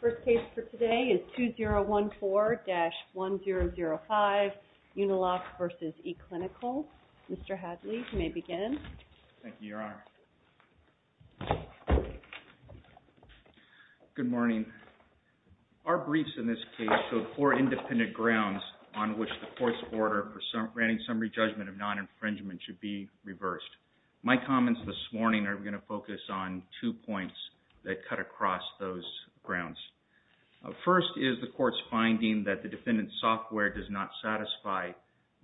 First case for today is 2014-1005, Uniloc v. eClinical. Mr. Hadley, you may begin. Thank you, Your Honor. Good morning. Our briefs in this case showed four independent grounds on which the court's order for granting summary judgment of non-infringement should be reversed. My comments this morning are going to focus on two points that cut across those grounds. First is the court's finding that the defendant's software does not satisfy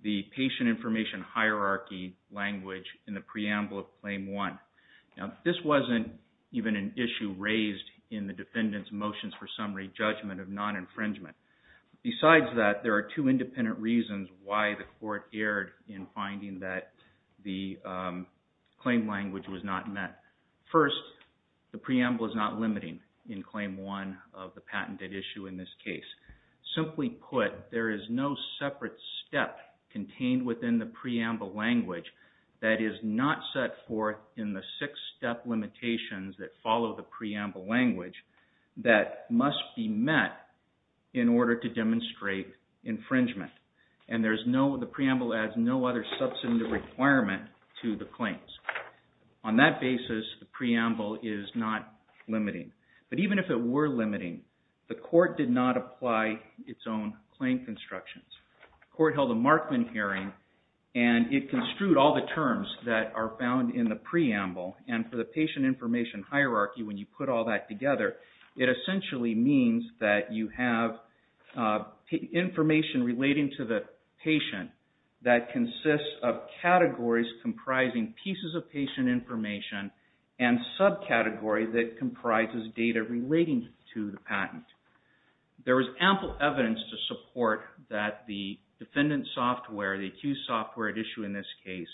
the patient information hierarchy language in the preamble of Claim 1. Now, this wasn't even an issue raised in the defendant's motions for summary judgment of non-infringement. Besides that, there are two independent reasons why the court erred in finding that the claim language was not met. First, the preamble is not limiting in Claim 1 of the patented issue in this case. Simply put, there is no separate step contained within the preamble language that is not set forth in the six-step limitations that follow the preamble language that must be met in order to demonstrate infringement. And the preamble adds no other substantive requirement to the claims. On that basis, the preamble is not limiting. But even if it were limiting, the court did not apply its own claim constructions. The court held a Markman hearing and it construed all the terms that are found in the preamble. And for the patient information hierarchy, when you put all that together, it essentially means that you have information relating to the patient that consists of categories comprising pieces of patient information and subcategory that comprises data relating to the patent. There was ample evidence to support that the defendant's software, the accused software at issue in this case,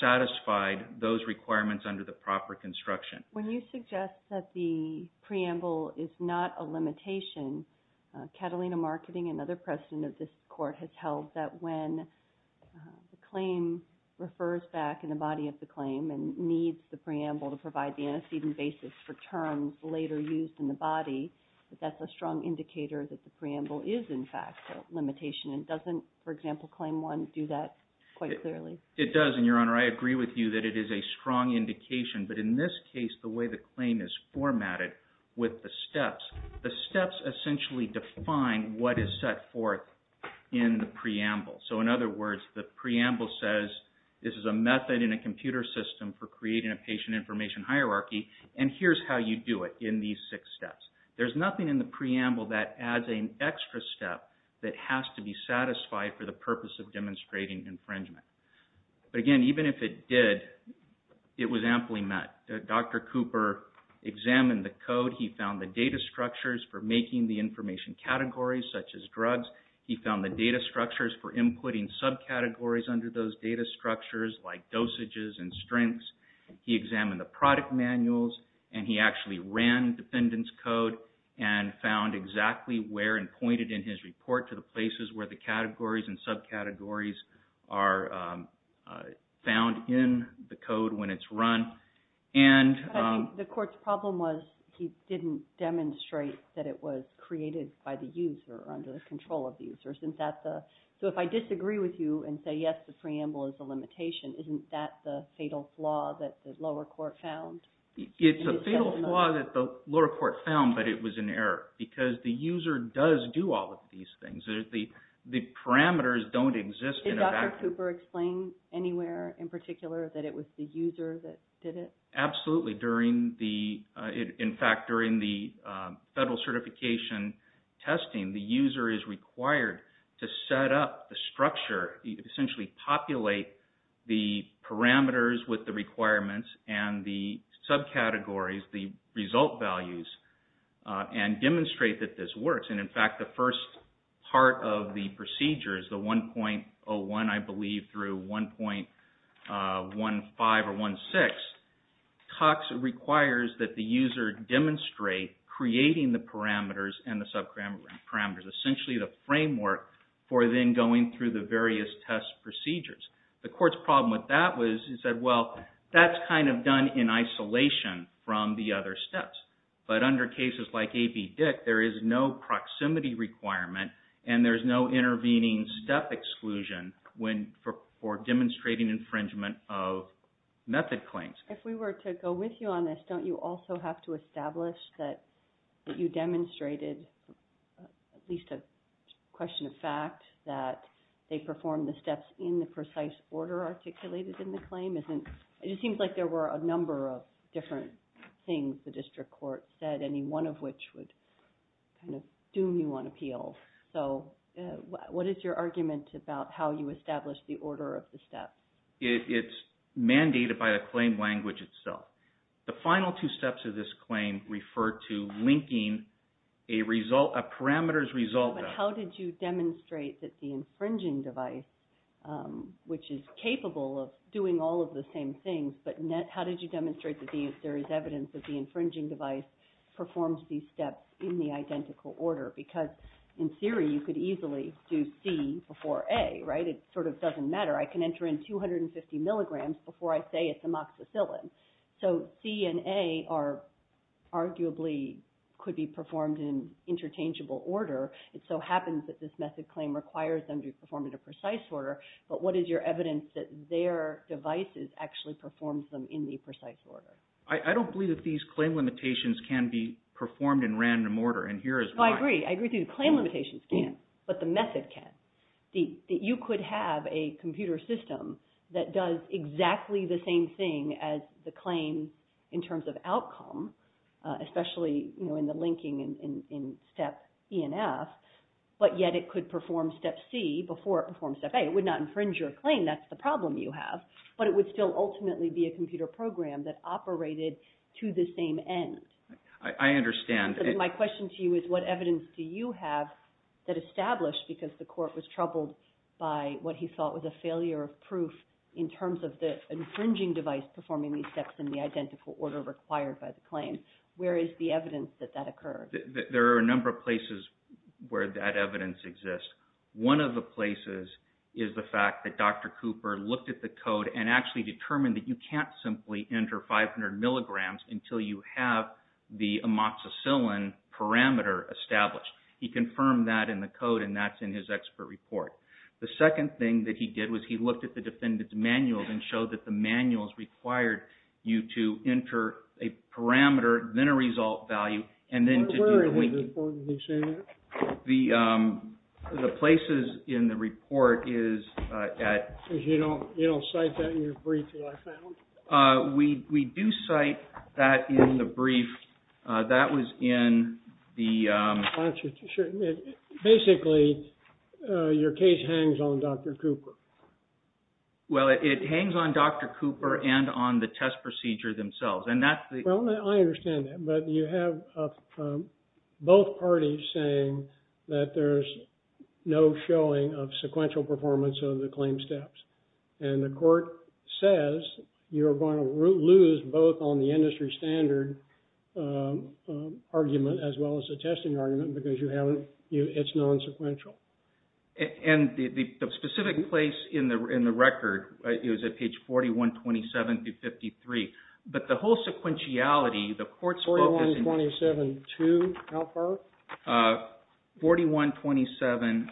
satisfied those requirements under the proper construction. When you suggest that the preamble is not a limitation, Catalina Marketing, another president of this court, has held that when the claim refers back in the body of the claim and needs the preamble to provide the antecedent basis for terms later used in the body, that's a strong indicator that the preamble is, in fact, a limitation. And doesn't, for example, Claim 1 do that quite clearly? It does and, Your Honor, I agree with you that it is a strong indication. But in this case, the way the claim is formatted with the steps, the steps essentially define what is set forth in the preamble. So, in other words, the preamble says this is a method in a computer system for creating a patient information hierarchy and here's how you do it in these six steps. There's nothing in the preamble that adds an extra step that has to be satisfied for the purpose of demonstrating infringement. But again, even if it did, it was amply met. Dr. Cooper examined the code. He found the data structures for making the information categories such as drugs. He found the data structures for inputting subcategories under those data structures like dosages and strengths. He examined the product manuals and he actually ran the defendant's code and found exactly where and pointed in his report to the places where the categories and subcategories are found in the code when it's run. But I think the court's problem was he didn't demonstrate that it was created by the user or under the control of the user. So, if I disagree with you and say yes, the preamble is a limitation, isn't that the fatal flaw that the lower court found? It's a fatal flaw that the lower court found, but it was an error because the user does do all of these things. The parameters don't exist in a vacuum. Did Dr. Cooper explain anywhere in particular that it was the user that did it? Absolutely. In fact, during the federal certification testing, the user is required to set up the structure, essentially populate the parameters with the requirements and the subcategories, the result values, and demonstrate that this works. In fact, the first part of the procedure is the 1.01, I believe, through 1.15 or 1.16. Cox requires that the user demonstrate creating the parameters and the subparameters, essentially the framework for then going through the various test procedures. The court's problem with that was he said, well, that's kind of done in isolation from the other steps. But under cases like AB Dick, there is no proximity requirement and there's no intervening step exclusion for demonstrating infringement of method claims. If we were to go with you on this, don't you also have to establish that you demonstrated at least a question of fact that they performed the steps in the precise order articulated in the claim? It just seems like there were a number of different things the district court said, any one of which would kind of doom you on appeal. So what is your argument about how you establish the order of the steps? It's mandated by the claim language itself. The final two steps of this claim refer to linking a result, a parameter's result. But how did you demonstrate that the infringing device, which is capable of doing all of the same things, but how did you demonstrate that there is evidence that the infringing device performs these steps in the identical order? Because in theory, you could easily do C before A, right? It sort of doesn't matter. I can enter in 250 milligrams before I say it's amoxicillin. So C and A arguably could be performed in interchangeable order. It so happens that this method claim requires them to be performed in a precise order. But what is your evidence that their device actually performs them in the precise order? I don't believe that these claim limitations can be performed in random order, and here is why. I agree. I agree with you. Claim limitations can, but the method can. You could have a computer system that does exactly the same thing as the claim in terms of outcome, especially in the linking in step E and F, but yet it could perform step C before it performs step A. It would not infringe your claim. That's the problem you have. But it would still ultimately be a computer program that operated to the same end. I understand. My question to you is what evidence do you have that established, because the court was troubled by what he thought was a failure of proof in terms of the infringing device performing these steps in the identical order required by the claim, where is the evidence that that occurred? There are a number of places where that evidence exists. One of the places is the fact that Dr. Cooper looked at the code and actually determined that you can't simply enter 500 milligrams until you have the amoxicillin parameter established. He confirmed that in the code, and that's in his expert report. The second thing that he did was he looked at the defendant's manuals and showed that the manuals required you to enter a parameter, then a result value, and then to do the linking. Where is the report that he's saying that? The places in the report is at You don't cite that in your brief that I found? We do cite that in the brief. That was in the Basically, your case hangs on Dr. Cooper. Well, it hangs on Dr. Cooper and on the test procedure themselves, and that's the I understand that, but you have both parties saying that there's no showing of sequential performance of the claim steps. And the court says you're going to lose both on the industry standard argument as well as the testing argument because it's non-sequential. And the specific place in the record is at page 4127-53. But the whole sequentiality, the court's focus 4127-2? How far? 4127-4153.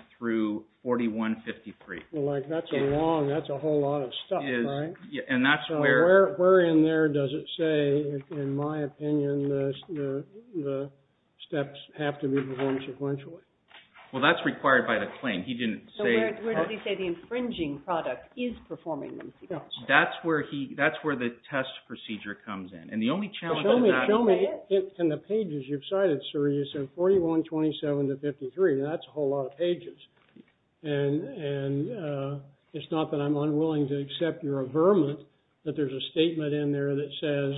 Well, that's a whole lot of stuff, right? And that's where Where in there does it say, in my opinion, the steps have to be performed sequentially? Well, that's required by the claim. He didn't say So where does he say the infringing product is performing them sequentially? That's where the test procedure comes in. And the only challenge of that Show me in the pages you've cited, sir, you said 4127-53. That's a whole lot of pages. And it's not that I'm unwilling to accept your averment that there's a statement in there that says,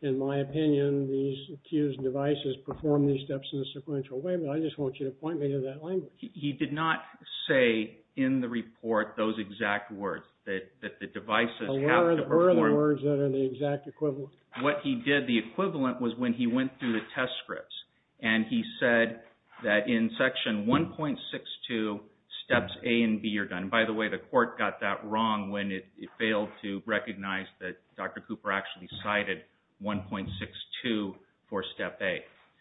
in my opinion, these accused devices perform these steps in a sequential way. But I just want you to point me to that language. He did not say in the report those exact words, that the devices have to perform Where are the words that are the exact equivalent? What he did, the equivalent, was when he went through the test scripts and he said that in Section 1.62, steps A and B are done. By the way, the court got that wrong when it failed to recognize that Dr. Cooper actually cited 1.62 for Step A.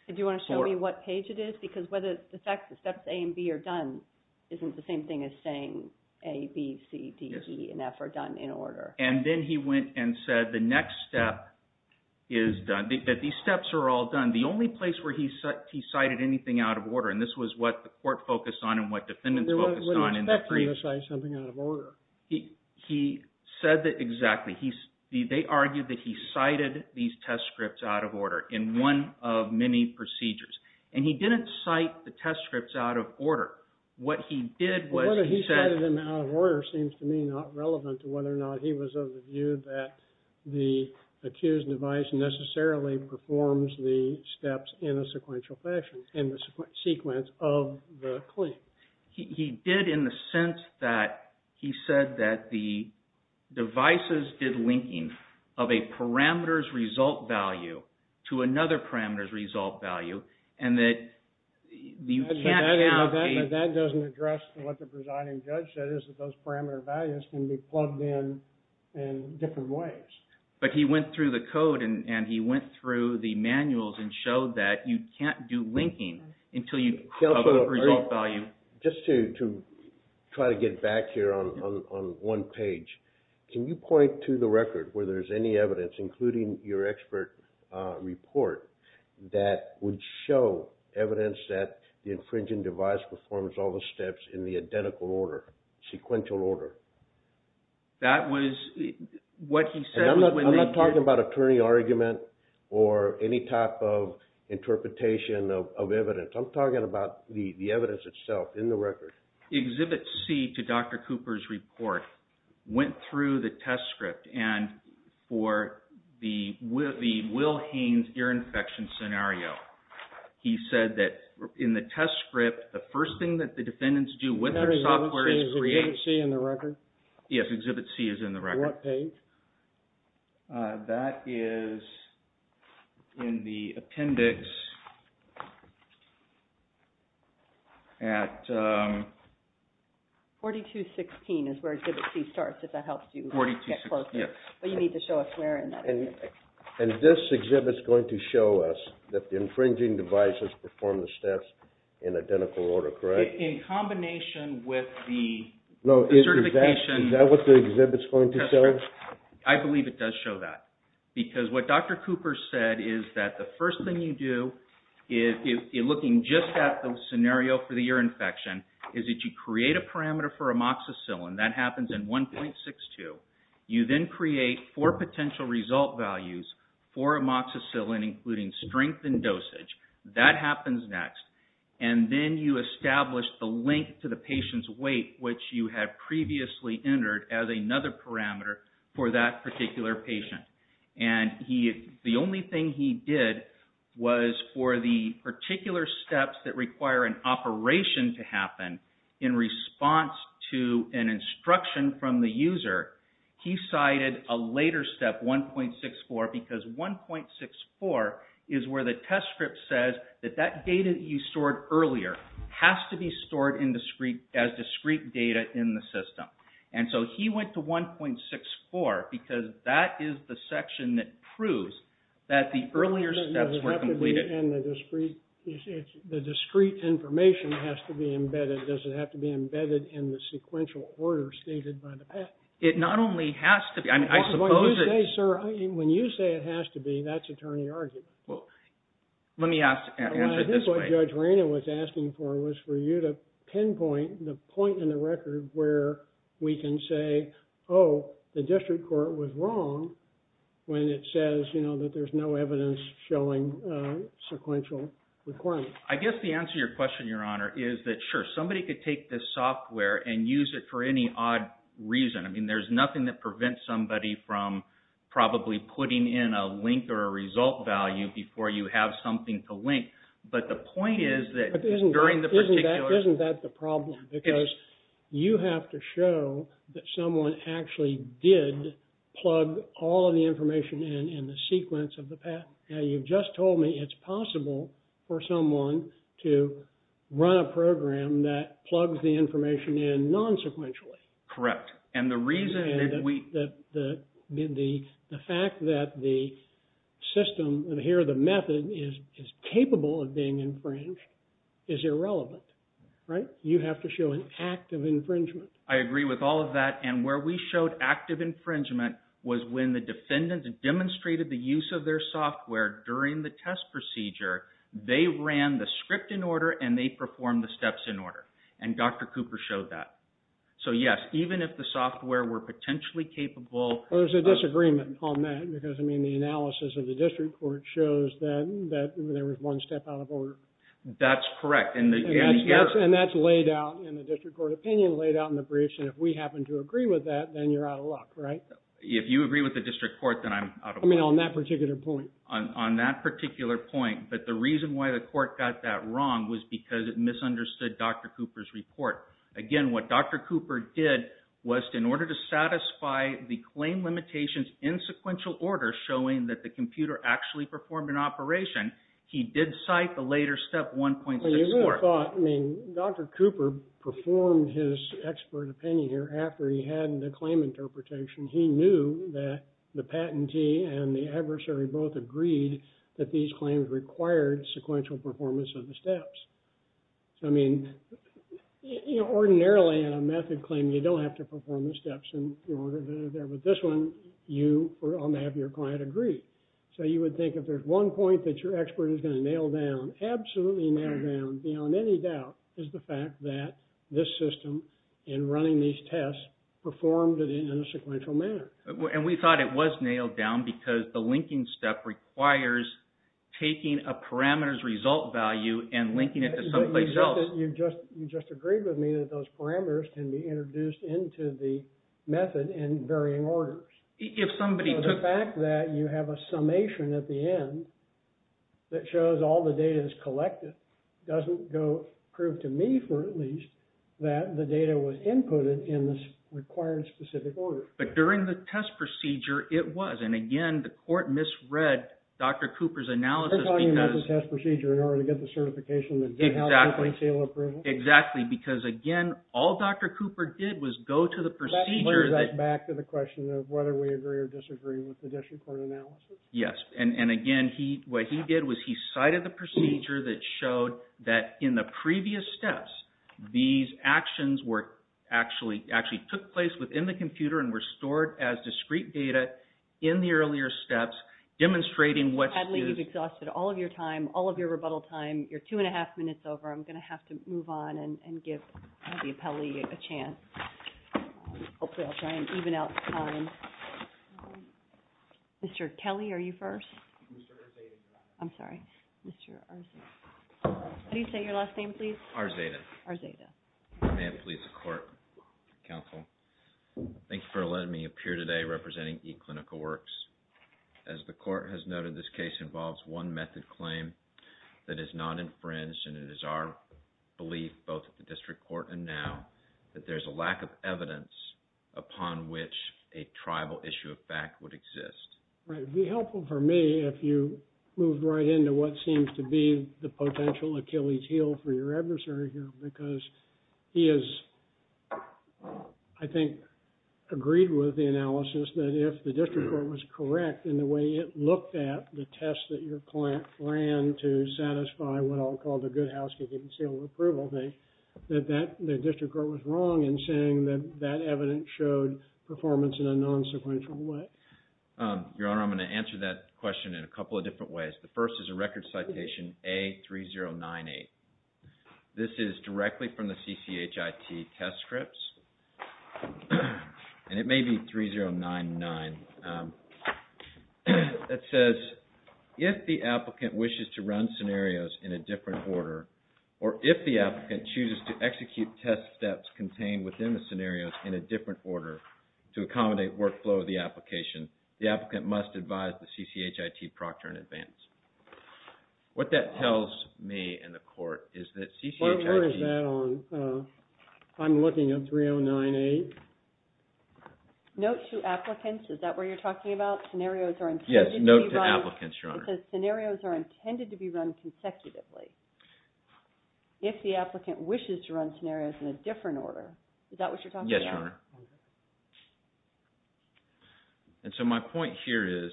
Do you want to show me what page it is? Because the fact that Steps A and B are done isn't the same thing as saying A, B, C, D, E, and F are done in order. And then he went and said the next step is done. These steps are all done. The only place where he cited anything out of order, and this was what the court focused on and what defendants focused on When you expect to criticize something out of order. He said that exactly. They argued that he cited these test scripts out of order in one of many procedures. And he didn't cite the test scripts out of order. What he did was he said The fact that he cited them out of order seems to me not relevant to whether or not he was of the view that the accused device necessarily performs the steps in a sequential fashion in the sequence of the claim. He did in the sense that he said that the devices did linking of a parameter's result value to another parameter's result value and that you can't count a But that doesn't address what the presiding judge said is that those parameter values can be plugged in in different ways. But he went through the code and he went through the manuals and showed that you can't do linking until you have a result value Just to try to get back here on one page. Can you point to the record where there's any evidence including your expert report that would show evidence that the infringing device performs all the steps in the identical order, sequential order? That was what he said And I'm not talking about attorney argument or any type of interpretation of evidence. I'm talking about the evidence itself in the record. Exhibit C to Dr. Cooper's report went through the test script and for the Will Haynes ear infection scenario. He said that in the test script the first thing that the defendants do with their software is create Is Exhibit C in the record? Yes, Exhibit C is in the record. On what page? That is in the appendix at 4216 is where Exhibit C starts if that helps you. But you need to show us where in that. And this exhibit is going to show us that the infringing device has performed the steps in identical order, correct? In combination with the certification Is that what the exhibit is going to show? I believe it does show that. Because what Dr. Cooper said is that the first thing you do looking just at the scenario for the ear infection is that you create a parameter for amoxicillin. That happens in 1.62. You then create four potential result values for amoxicillin including strength and dosage. That happens next. And then you establish the link to the patient's weight which you have previously entered as another parameter for that particular patient. The only thing he did was for the particular steps that require an operation to happen in response to an instruction from the user he cited a later step 1.64 because 1.64 is where the test script says that that data you stored earlier has to be stored as discrete data in the system. And so he went to 1.64 because that is the section that proves that the earlier steps were completed. The discrete information has to be embedded. Does it have to be embedded in the sequential order stated by the path? It not only has to be. When you say it has to be, that's attorney argument. Let me answer it this way. I think what Judge Raina was asking for was for you to pinpoint the point in the record where we can say, oh, the district court was wrong when it says that there's no evidence showing sequential requirements. I guess the answer to your question, Your Honor, is that sure, somebody could take this software and use it for any odd reason. I mean, there's nothing that prevents somebody from probably putting in a link or a result value before you have something to link. But the point is that during the particular... Isn't that the problem? Because you have to show that someone actually did plug all of the information in in the sequence of the path. Now, you've just told me it's possible for someone to run a program that plugs the information in non-sequentially. Correct. And the reason that we... The fact that the system, and here the method, is capable of being infringed is irrelevant, right? You have to show an act of infringement. I agree with all of that. And where we showed active infringement was when the defendant demonstrated the use of their software during the test procedure, they ran the script in order and they performed the steps in order. And Dr. Cooper showed that. So, yes, even if the software were potentially capable... There's a disagreement on that because, I mean, the analysis of the district court shows that there was one step out of order. That's correct. And that's laid out in the district court opinion, laid out in the briefs, and if we happen to agree with that, then you're out of luck, right? If you agree with the district court, then I'm out of luck. I mean, on that particular point. On that particular point. But the reason why the court got that wrong was because it misunderstood Dr. Cooper's report. Again, what Dr. Cooper did was in order to satisfy the claim limitations in sequential order, showing that the computer actually performed an operation, he did cite the later step 1.64. Well, you would have thought, I mean, Dr. Cooper performed his expert opinion here after he had the claim interpretation. He knew that the patentee and the adversary both agreed that these claims required sequential performance of the steps. I mean, you know, ordinarily, in a method claim, you don't have to perform the steps in order to get it there. But this one, you, on behalf of your client, agreed. So you would think if there's one point that your expert is going to nail down, absolutely nail down, beyond any doubt, is the fact that this system, in running these tests, performed it in a sequential manner. And we thought it was nailed down because the linking step requires taking a parameter's result value and linking it to someplace else. You just agreed with me that those parameters can be introduced into the method in varying orders. If somebody took... The fact that you have a summation at the end that shows all the data is collected doesn't go... prove to me, for at least, that the data was inputted in the required specific order. But during the test procedure, it was. And again, the court misread Dr. Cooper's analysis because... They're talking about the test procedure in order to get the certification that did have open seal approval? Exactly. Exactly, because again, all Dr. Cooper did was go to the procedure that... That brings us back to the question of whether we agree or disagree with the district court analysis. Yes. And again, what he did was he cited the procedure that showed that in the previous steps, these actions actually took place within the computer and were stored as discrete data in the earlier steps, demonstrating what... Sadly, you've exhausted all of your time, all of your rebuttal time. You're two and a half minutes over. I'm going to have to move on and give the appellee a chance. Hopefully, I'll try and even out time. Mr. Kelly, are you first? Mr. Arzada. I'm sorry. Mr. Arzada. How do you say your last name, please? Arzada. Arzada. May it please the court, counsel, thank you for letting me appear today representing eClinical Works. As the court has noted, this case involves one method claim that is not infringed, and it is our belief, both at the district court and now, that there's a lack of evidence upon which a tribal issue of fact would exist. Right. It would be helpful for me if you moved right into what seems to be the potential Achilles heel for your adversary here because he has, I think, agreed with the analysis that if the district court was correct in the way it looked at the test that your client planned to satisfy what I'll call the good housekeeping seal of approval thing, that the district court was wrong in saying that that evidence showed performance in a non-sequential way. Your Honor, I'm going to answer that question in a couple of different ways. The first is a record citation, A3098. This is directly from the CCHIT test scripts, and it may be 3099. It says, if the applicant wishes to run scenarios in a different order, or if the applicant chooses to execute test steps contained within the scenarios in a different order to accommodate workflow of the application, the applicant must advise the CCHIT proctor in advance. What that tells me in the court is that CCHIT... Where is that on? I'm looking at 3098. Note to applicants, is that where you're talking about? Scenarios are intended to be run... Yes, note to applicants, Your Honor. It says scenarios are intended to be run consecutively. If the applicant wishes to run scenarios in a different order, is that what you're talking about? Yes, Your Honor. And so my point here is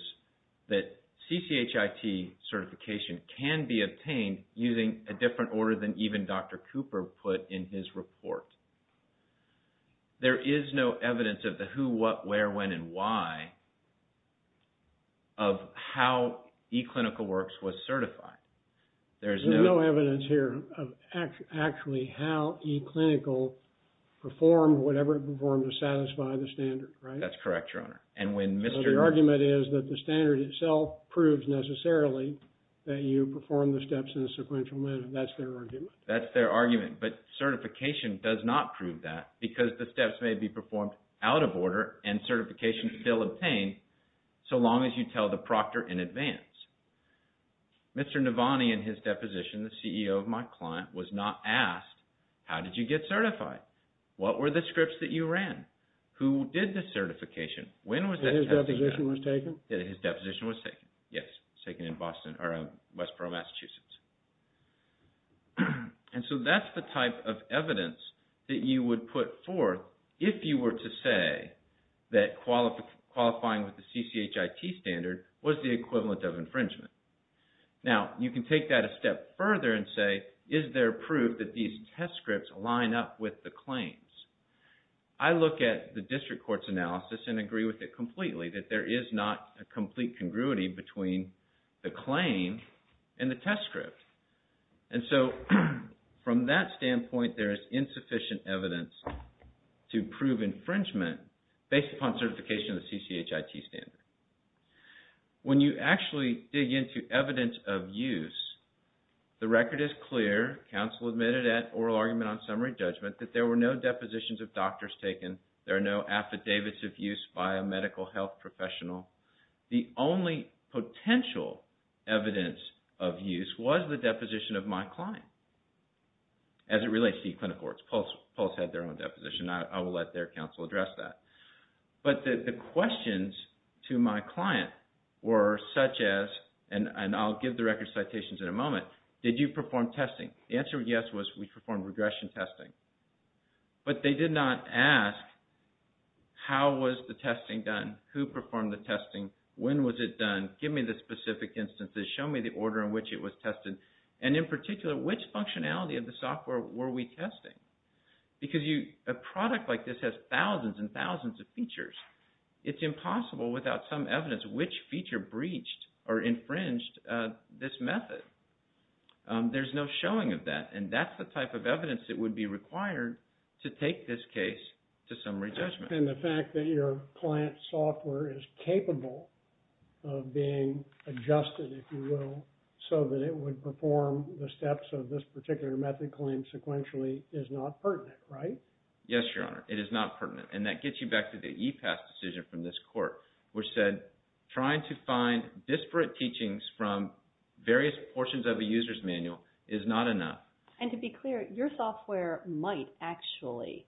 that CCHIT certification can be obtained using a different order than even Dr. Cooper put in his report. There is no evidence of the who, what, where, when, and why of how eClinical Works was certified. There's no evidence here of actually how eClinical performed whatever it performed to satisfy the standard, right? That's correct, Your Honor. So the argument is that the standard itself proves necessarily that you perform the steps in a sequential manner. That's their argument. That's their argument. But certification does not prove that because the steps may be performed out of order and certification is still obtained so long as you tell the proctor in advance. Mr. Navani in his deposition, the CEO of my client, was not asked, how did you get certified? What were the scripts that you ran? Who did the certification? When was that taken? His deposition was taken? His deposition was taken, yes. It was taken in Boston, or Westboro, Massachusetts. And so that's the type of evidence that you would put forth if you were to say that qualifying with the CCHIT standard was the equivalent of infringement. Now, you can take that a step further and say, is there proof that these test scripts line up with the claims? I look at the district court's analysis and agree with it completely, that there is not a complete congruity between the claim and the test script. And so from that standpoint, there is insufficient evidence to prove infringement based upon certification of the CCHIT standard. When you actually dig into evidence of use, the record is clear. Counsel admitted at oral argument on summary judgment that there were no depositions of doctors taken. There are no affidavits of use by a medical health professional. The only potential evidence of use was the deposition of my client, as it relates to the clinic courts. Pulse had their own deposition. I will let their counsel address that. But the questions to my client were such as, and I'll give the record citations in a moment, did you perform testing? The answer, yes, was we performed regression testing. But they did not ask how was the testing done? Who performed the testing? When was it done? Give me the specific instances. Show me the order in which it was tested. And in particular, which functionality of the software were we testing? Because a product like this has thousands and thousands of features. It's impossible without some evidence which feature breached or infringed this method. There's no showing of that. And that's the type of evidence that would be required to take this case to summary judgment. And the fact that your client's software is capable of being adjusted, if you will, so that it would perform the steps of this particular method claim consequentially is not pertinent, right? Yes, Your Honor. It is not pertinent. And that gets you back to the EPAS decision from this court, which said trying to find disparate teachings from various portions of a user's manual is not enough. And to be clear, your software might actually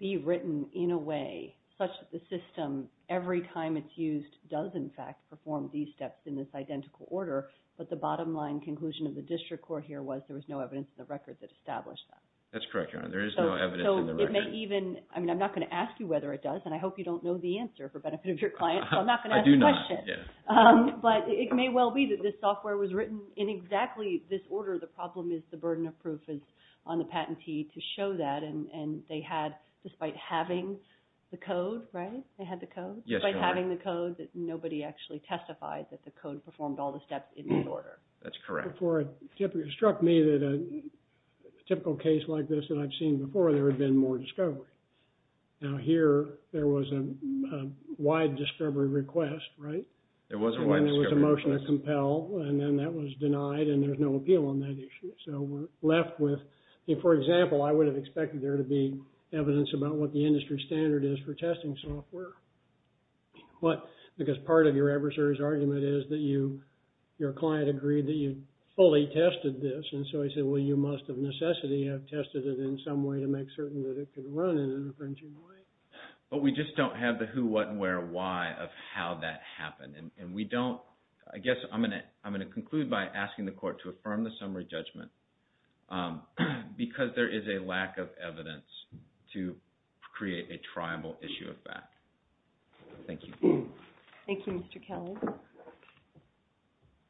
be written in a way such that the system, every time it's used, does in fact perform these steps in this identical order. But the bottom line conclusion of the district court here was that there was no evidence in the record that established that. That's correct, Your Honor. There is no evidence in the record. So it may even, I mean, I'm not going to ask you whether it does, and I hope you don't know the answer for benefit of your client, so I'm not going to ask the question. I do not, yes. But it may well be that this software was written in exactly this order. The problem is the burden of proof is on the patentee to show that. And they had, despite having the code, right? They had the code? Yes, Your Honor. Despite having the code, that nobody actually testified that the code performed all the steps in this order. That's correct. It struck me that a typical case like this that I've seen before, there had been more discovery. Now here, there was a wide discovery request, right? There was a wide discovery request. And it was a motion to compel, and then that was denied, and there's no appeal on that issue. So we're left with, for example, I would have expected there to be evidence about what the industry standard is for testing software. But because part of your adversary's argument is that you, your client agreed that you fully tested this. And so I said, well, you must of necessity have tested it in some way to make certain that it could run in an infringing way. But we just don't have the who, what, where, why of how that happened. And we don't, I guess, I'm going to conclude by asking the court to affirm the summary judgment because there is a lack of evidence to create a tribal issue of fact. Thank you. Thank you, Mr. Kelly.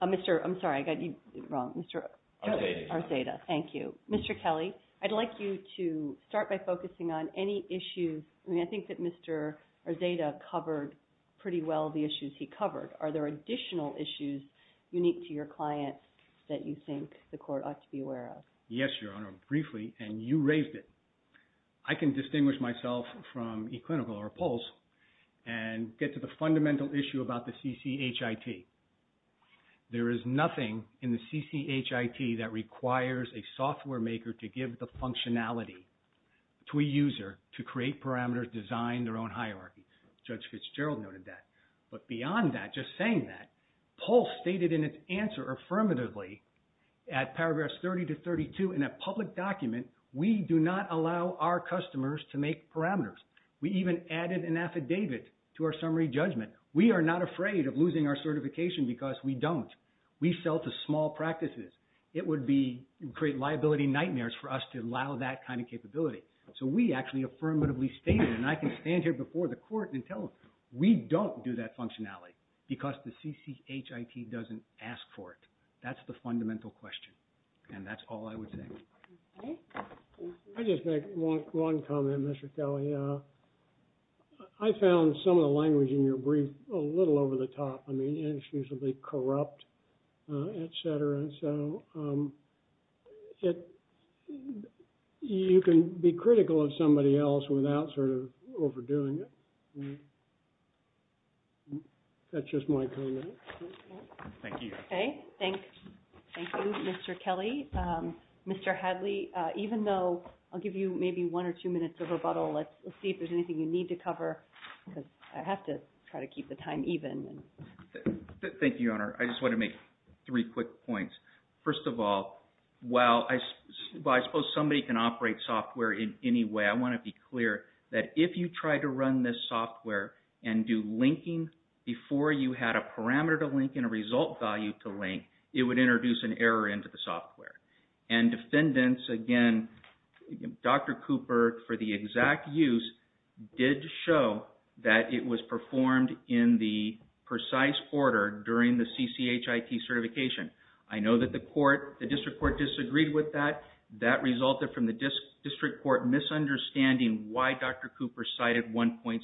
Mr., I'm sorry, I got you wrong. Mr. Arzeda. Arzeda. Thank you. Mr. Kelly, I'd like you to start by focusing on any issues. I mean, I think that Mr. Arzeda covered pretty well the issues he covered. Are there additional issues unique to your client that you think the court ought to be aware of? Yes, Your Honor, briefly, and you raised it. I can distinguish myself from eClinical or Pulse and get to the fundamental issue about the CCHIT. There is nothing in the CCHIT that requires a software maker to give the functionality to a user to create parameters, design their own hierarchy. Judge Fitzgerald noted that. But beyond that, just saying that, Pulse stated in its answer affirmatively at paragraphs 30 to 32 in a public document, we do not allow our customers to make parameters. We even added an affidavit to our summary judgment. We are not afraid of losing our certification because we don't. We sell to small practices. It would create liability nightmares for us to allow that kind of capability. So we actually affirmatively stated, and I can stand here before the court and tell them we don't do that functionality because the CCHIT doesn't ask for it. That's the fundamental question, and that's all I would say. Okay. I just make one comment, Mr. Kelly. I found some of the language in your brief a little over the top. I mean, inexcusably corrupt, et cetera, et cetera. You can be critical of somebody else without sort of overdoing it. That's just my comment. Thank you. Okay. Thank you, Mr. Kelly. Mr. Hadley, even though I'll give you maybe one or two minutes of rebuttal, let's see if there's anything you need to cover because I have to try to keep the time even. Thank you, Your Honor. I just want to make three quick points. First of all, while I suppose somebody can operate software in any way, I want to be clear that if you try to run this software and do linking before you had a parameter to link and a result value to link, it would introduce an error into the software. And defendants, again, Dr. Cooper, for the exact use, did show that it was performed in the precise order during the CCHIT certification. I know that the court, the district court, disagreed with that. That resulted from the district court misunderstanding why Dr. Cooper cited 1.64.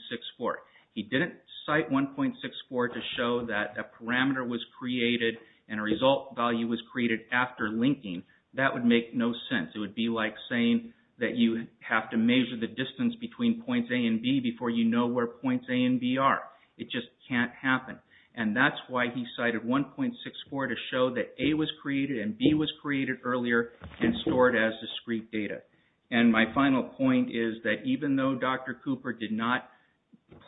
He didn't cite 1.64 to show that a parameter was created and a result value was created after linking. That would make no sense. It would be like saying that you have to measure the distance between points A and B before you know where points A and B are. It just can't happen. And that's why he cited 1.64 to show that A was created and B was created earlier and stored as discrete data. And my final point is that even though Dr. Cooper did not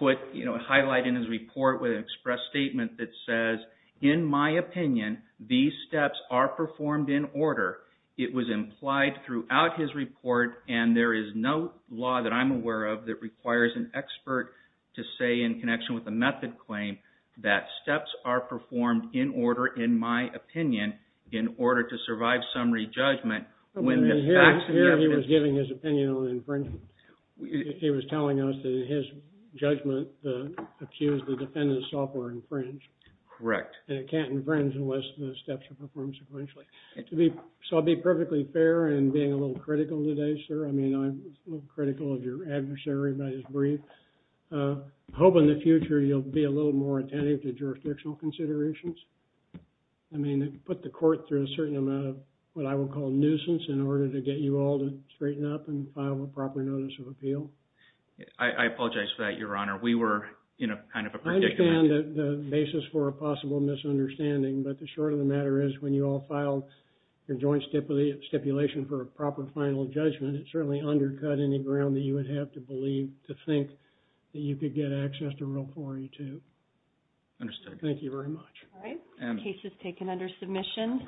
highlight in his report with an express statement that says, in my opinion, these steps are performed in order, it was implied throughout his report, and there is no law that I'm aware of that requires an expert to say in connection with a method claim that steps are performed in order, in my opinion, in order to survive summary judgment when the facts and evidence... Here he was giving his opinion on infringement. He was telling us that in his judgment, the accused, the defendant's software infringed. Correct. And it can't infringe unless the steps are performed sequentially. So I'll be perfectly fair in being a little critical today, sir. I mean, I'm a little critical of your adversary by his brief. I hope in the future you'll be a little more attentive to jurisdictional considerations. I mean, put the court through a certain amount of what I would call nuisance in order to get you all to straighten up and file a proper notice of appeal. I apologize for that, Your Honor. We were in a kind of a predicament. I understand the basis for a possible misunderstanding, but the short of the matter is when you all filed your joint stipulation for a proper final judgment, it certainly undercut any ground that you would have to believe, to think, that you could get access to Rule 42. Understood. Thank you very much. All right. The case is taken under submission.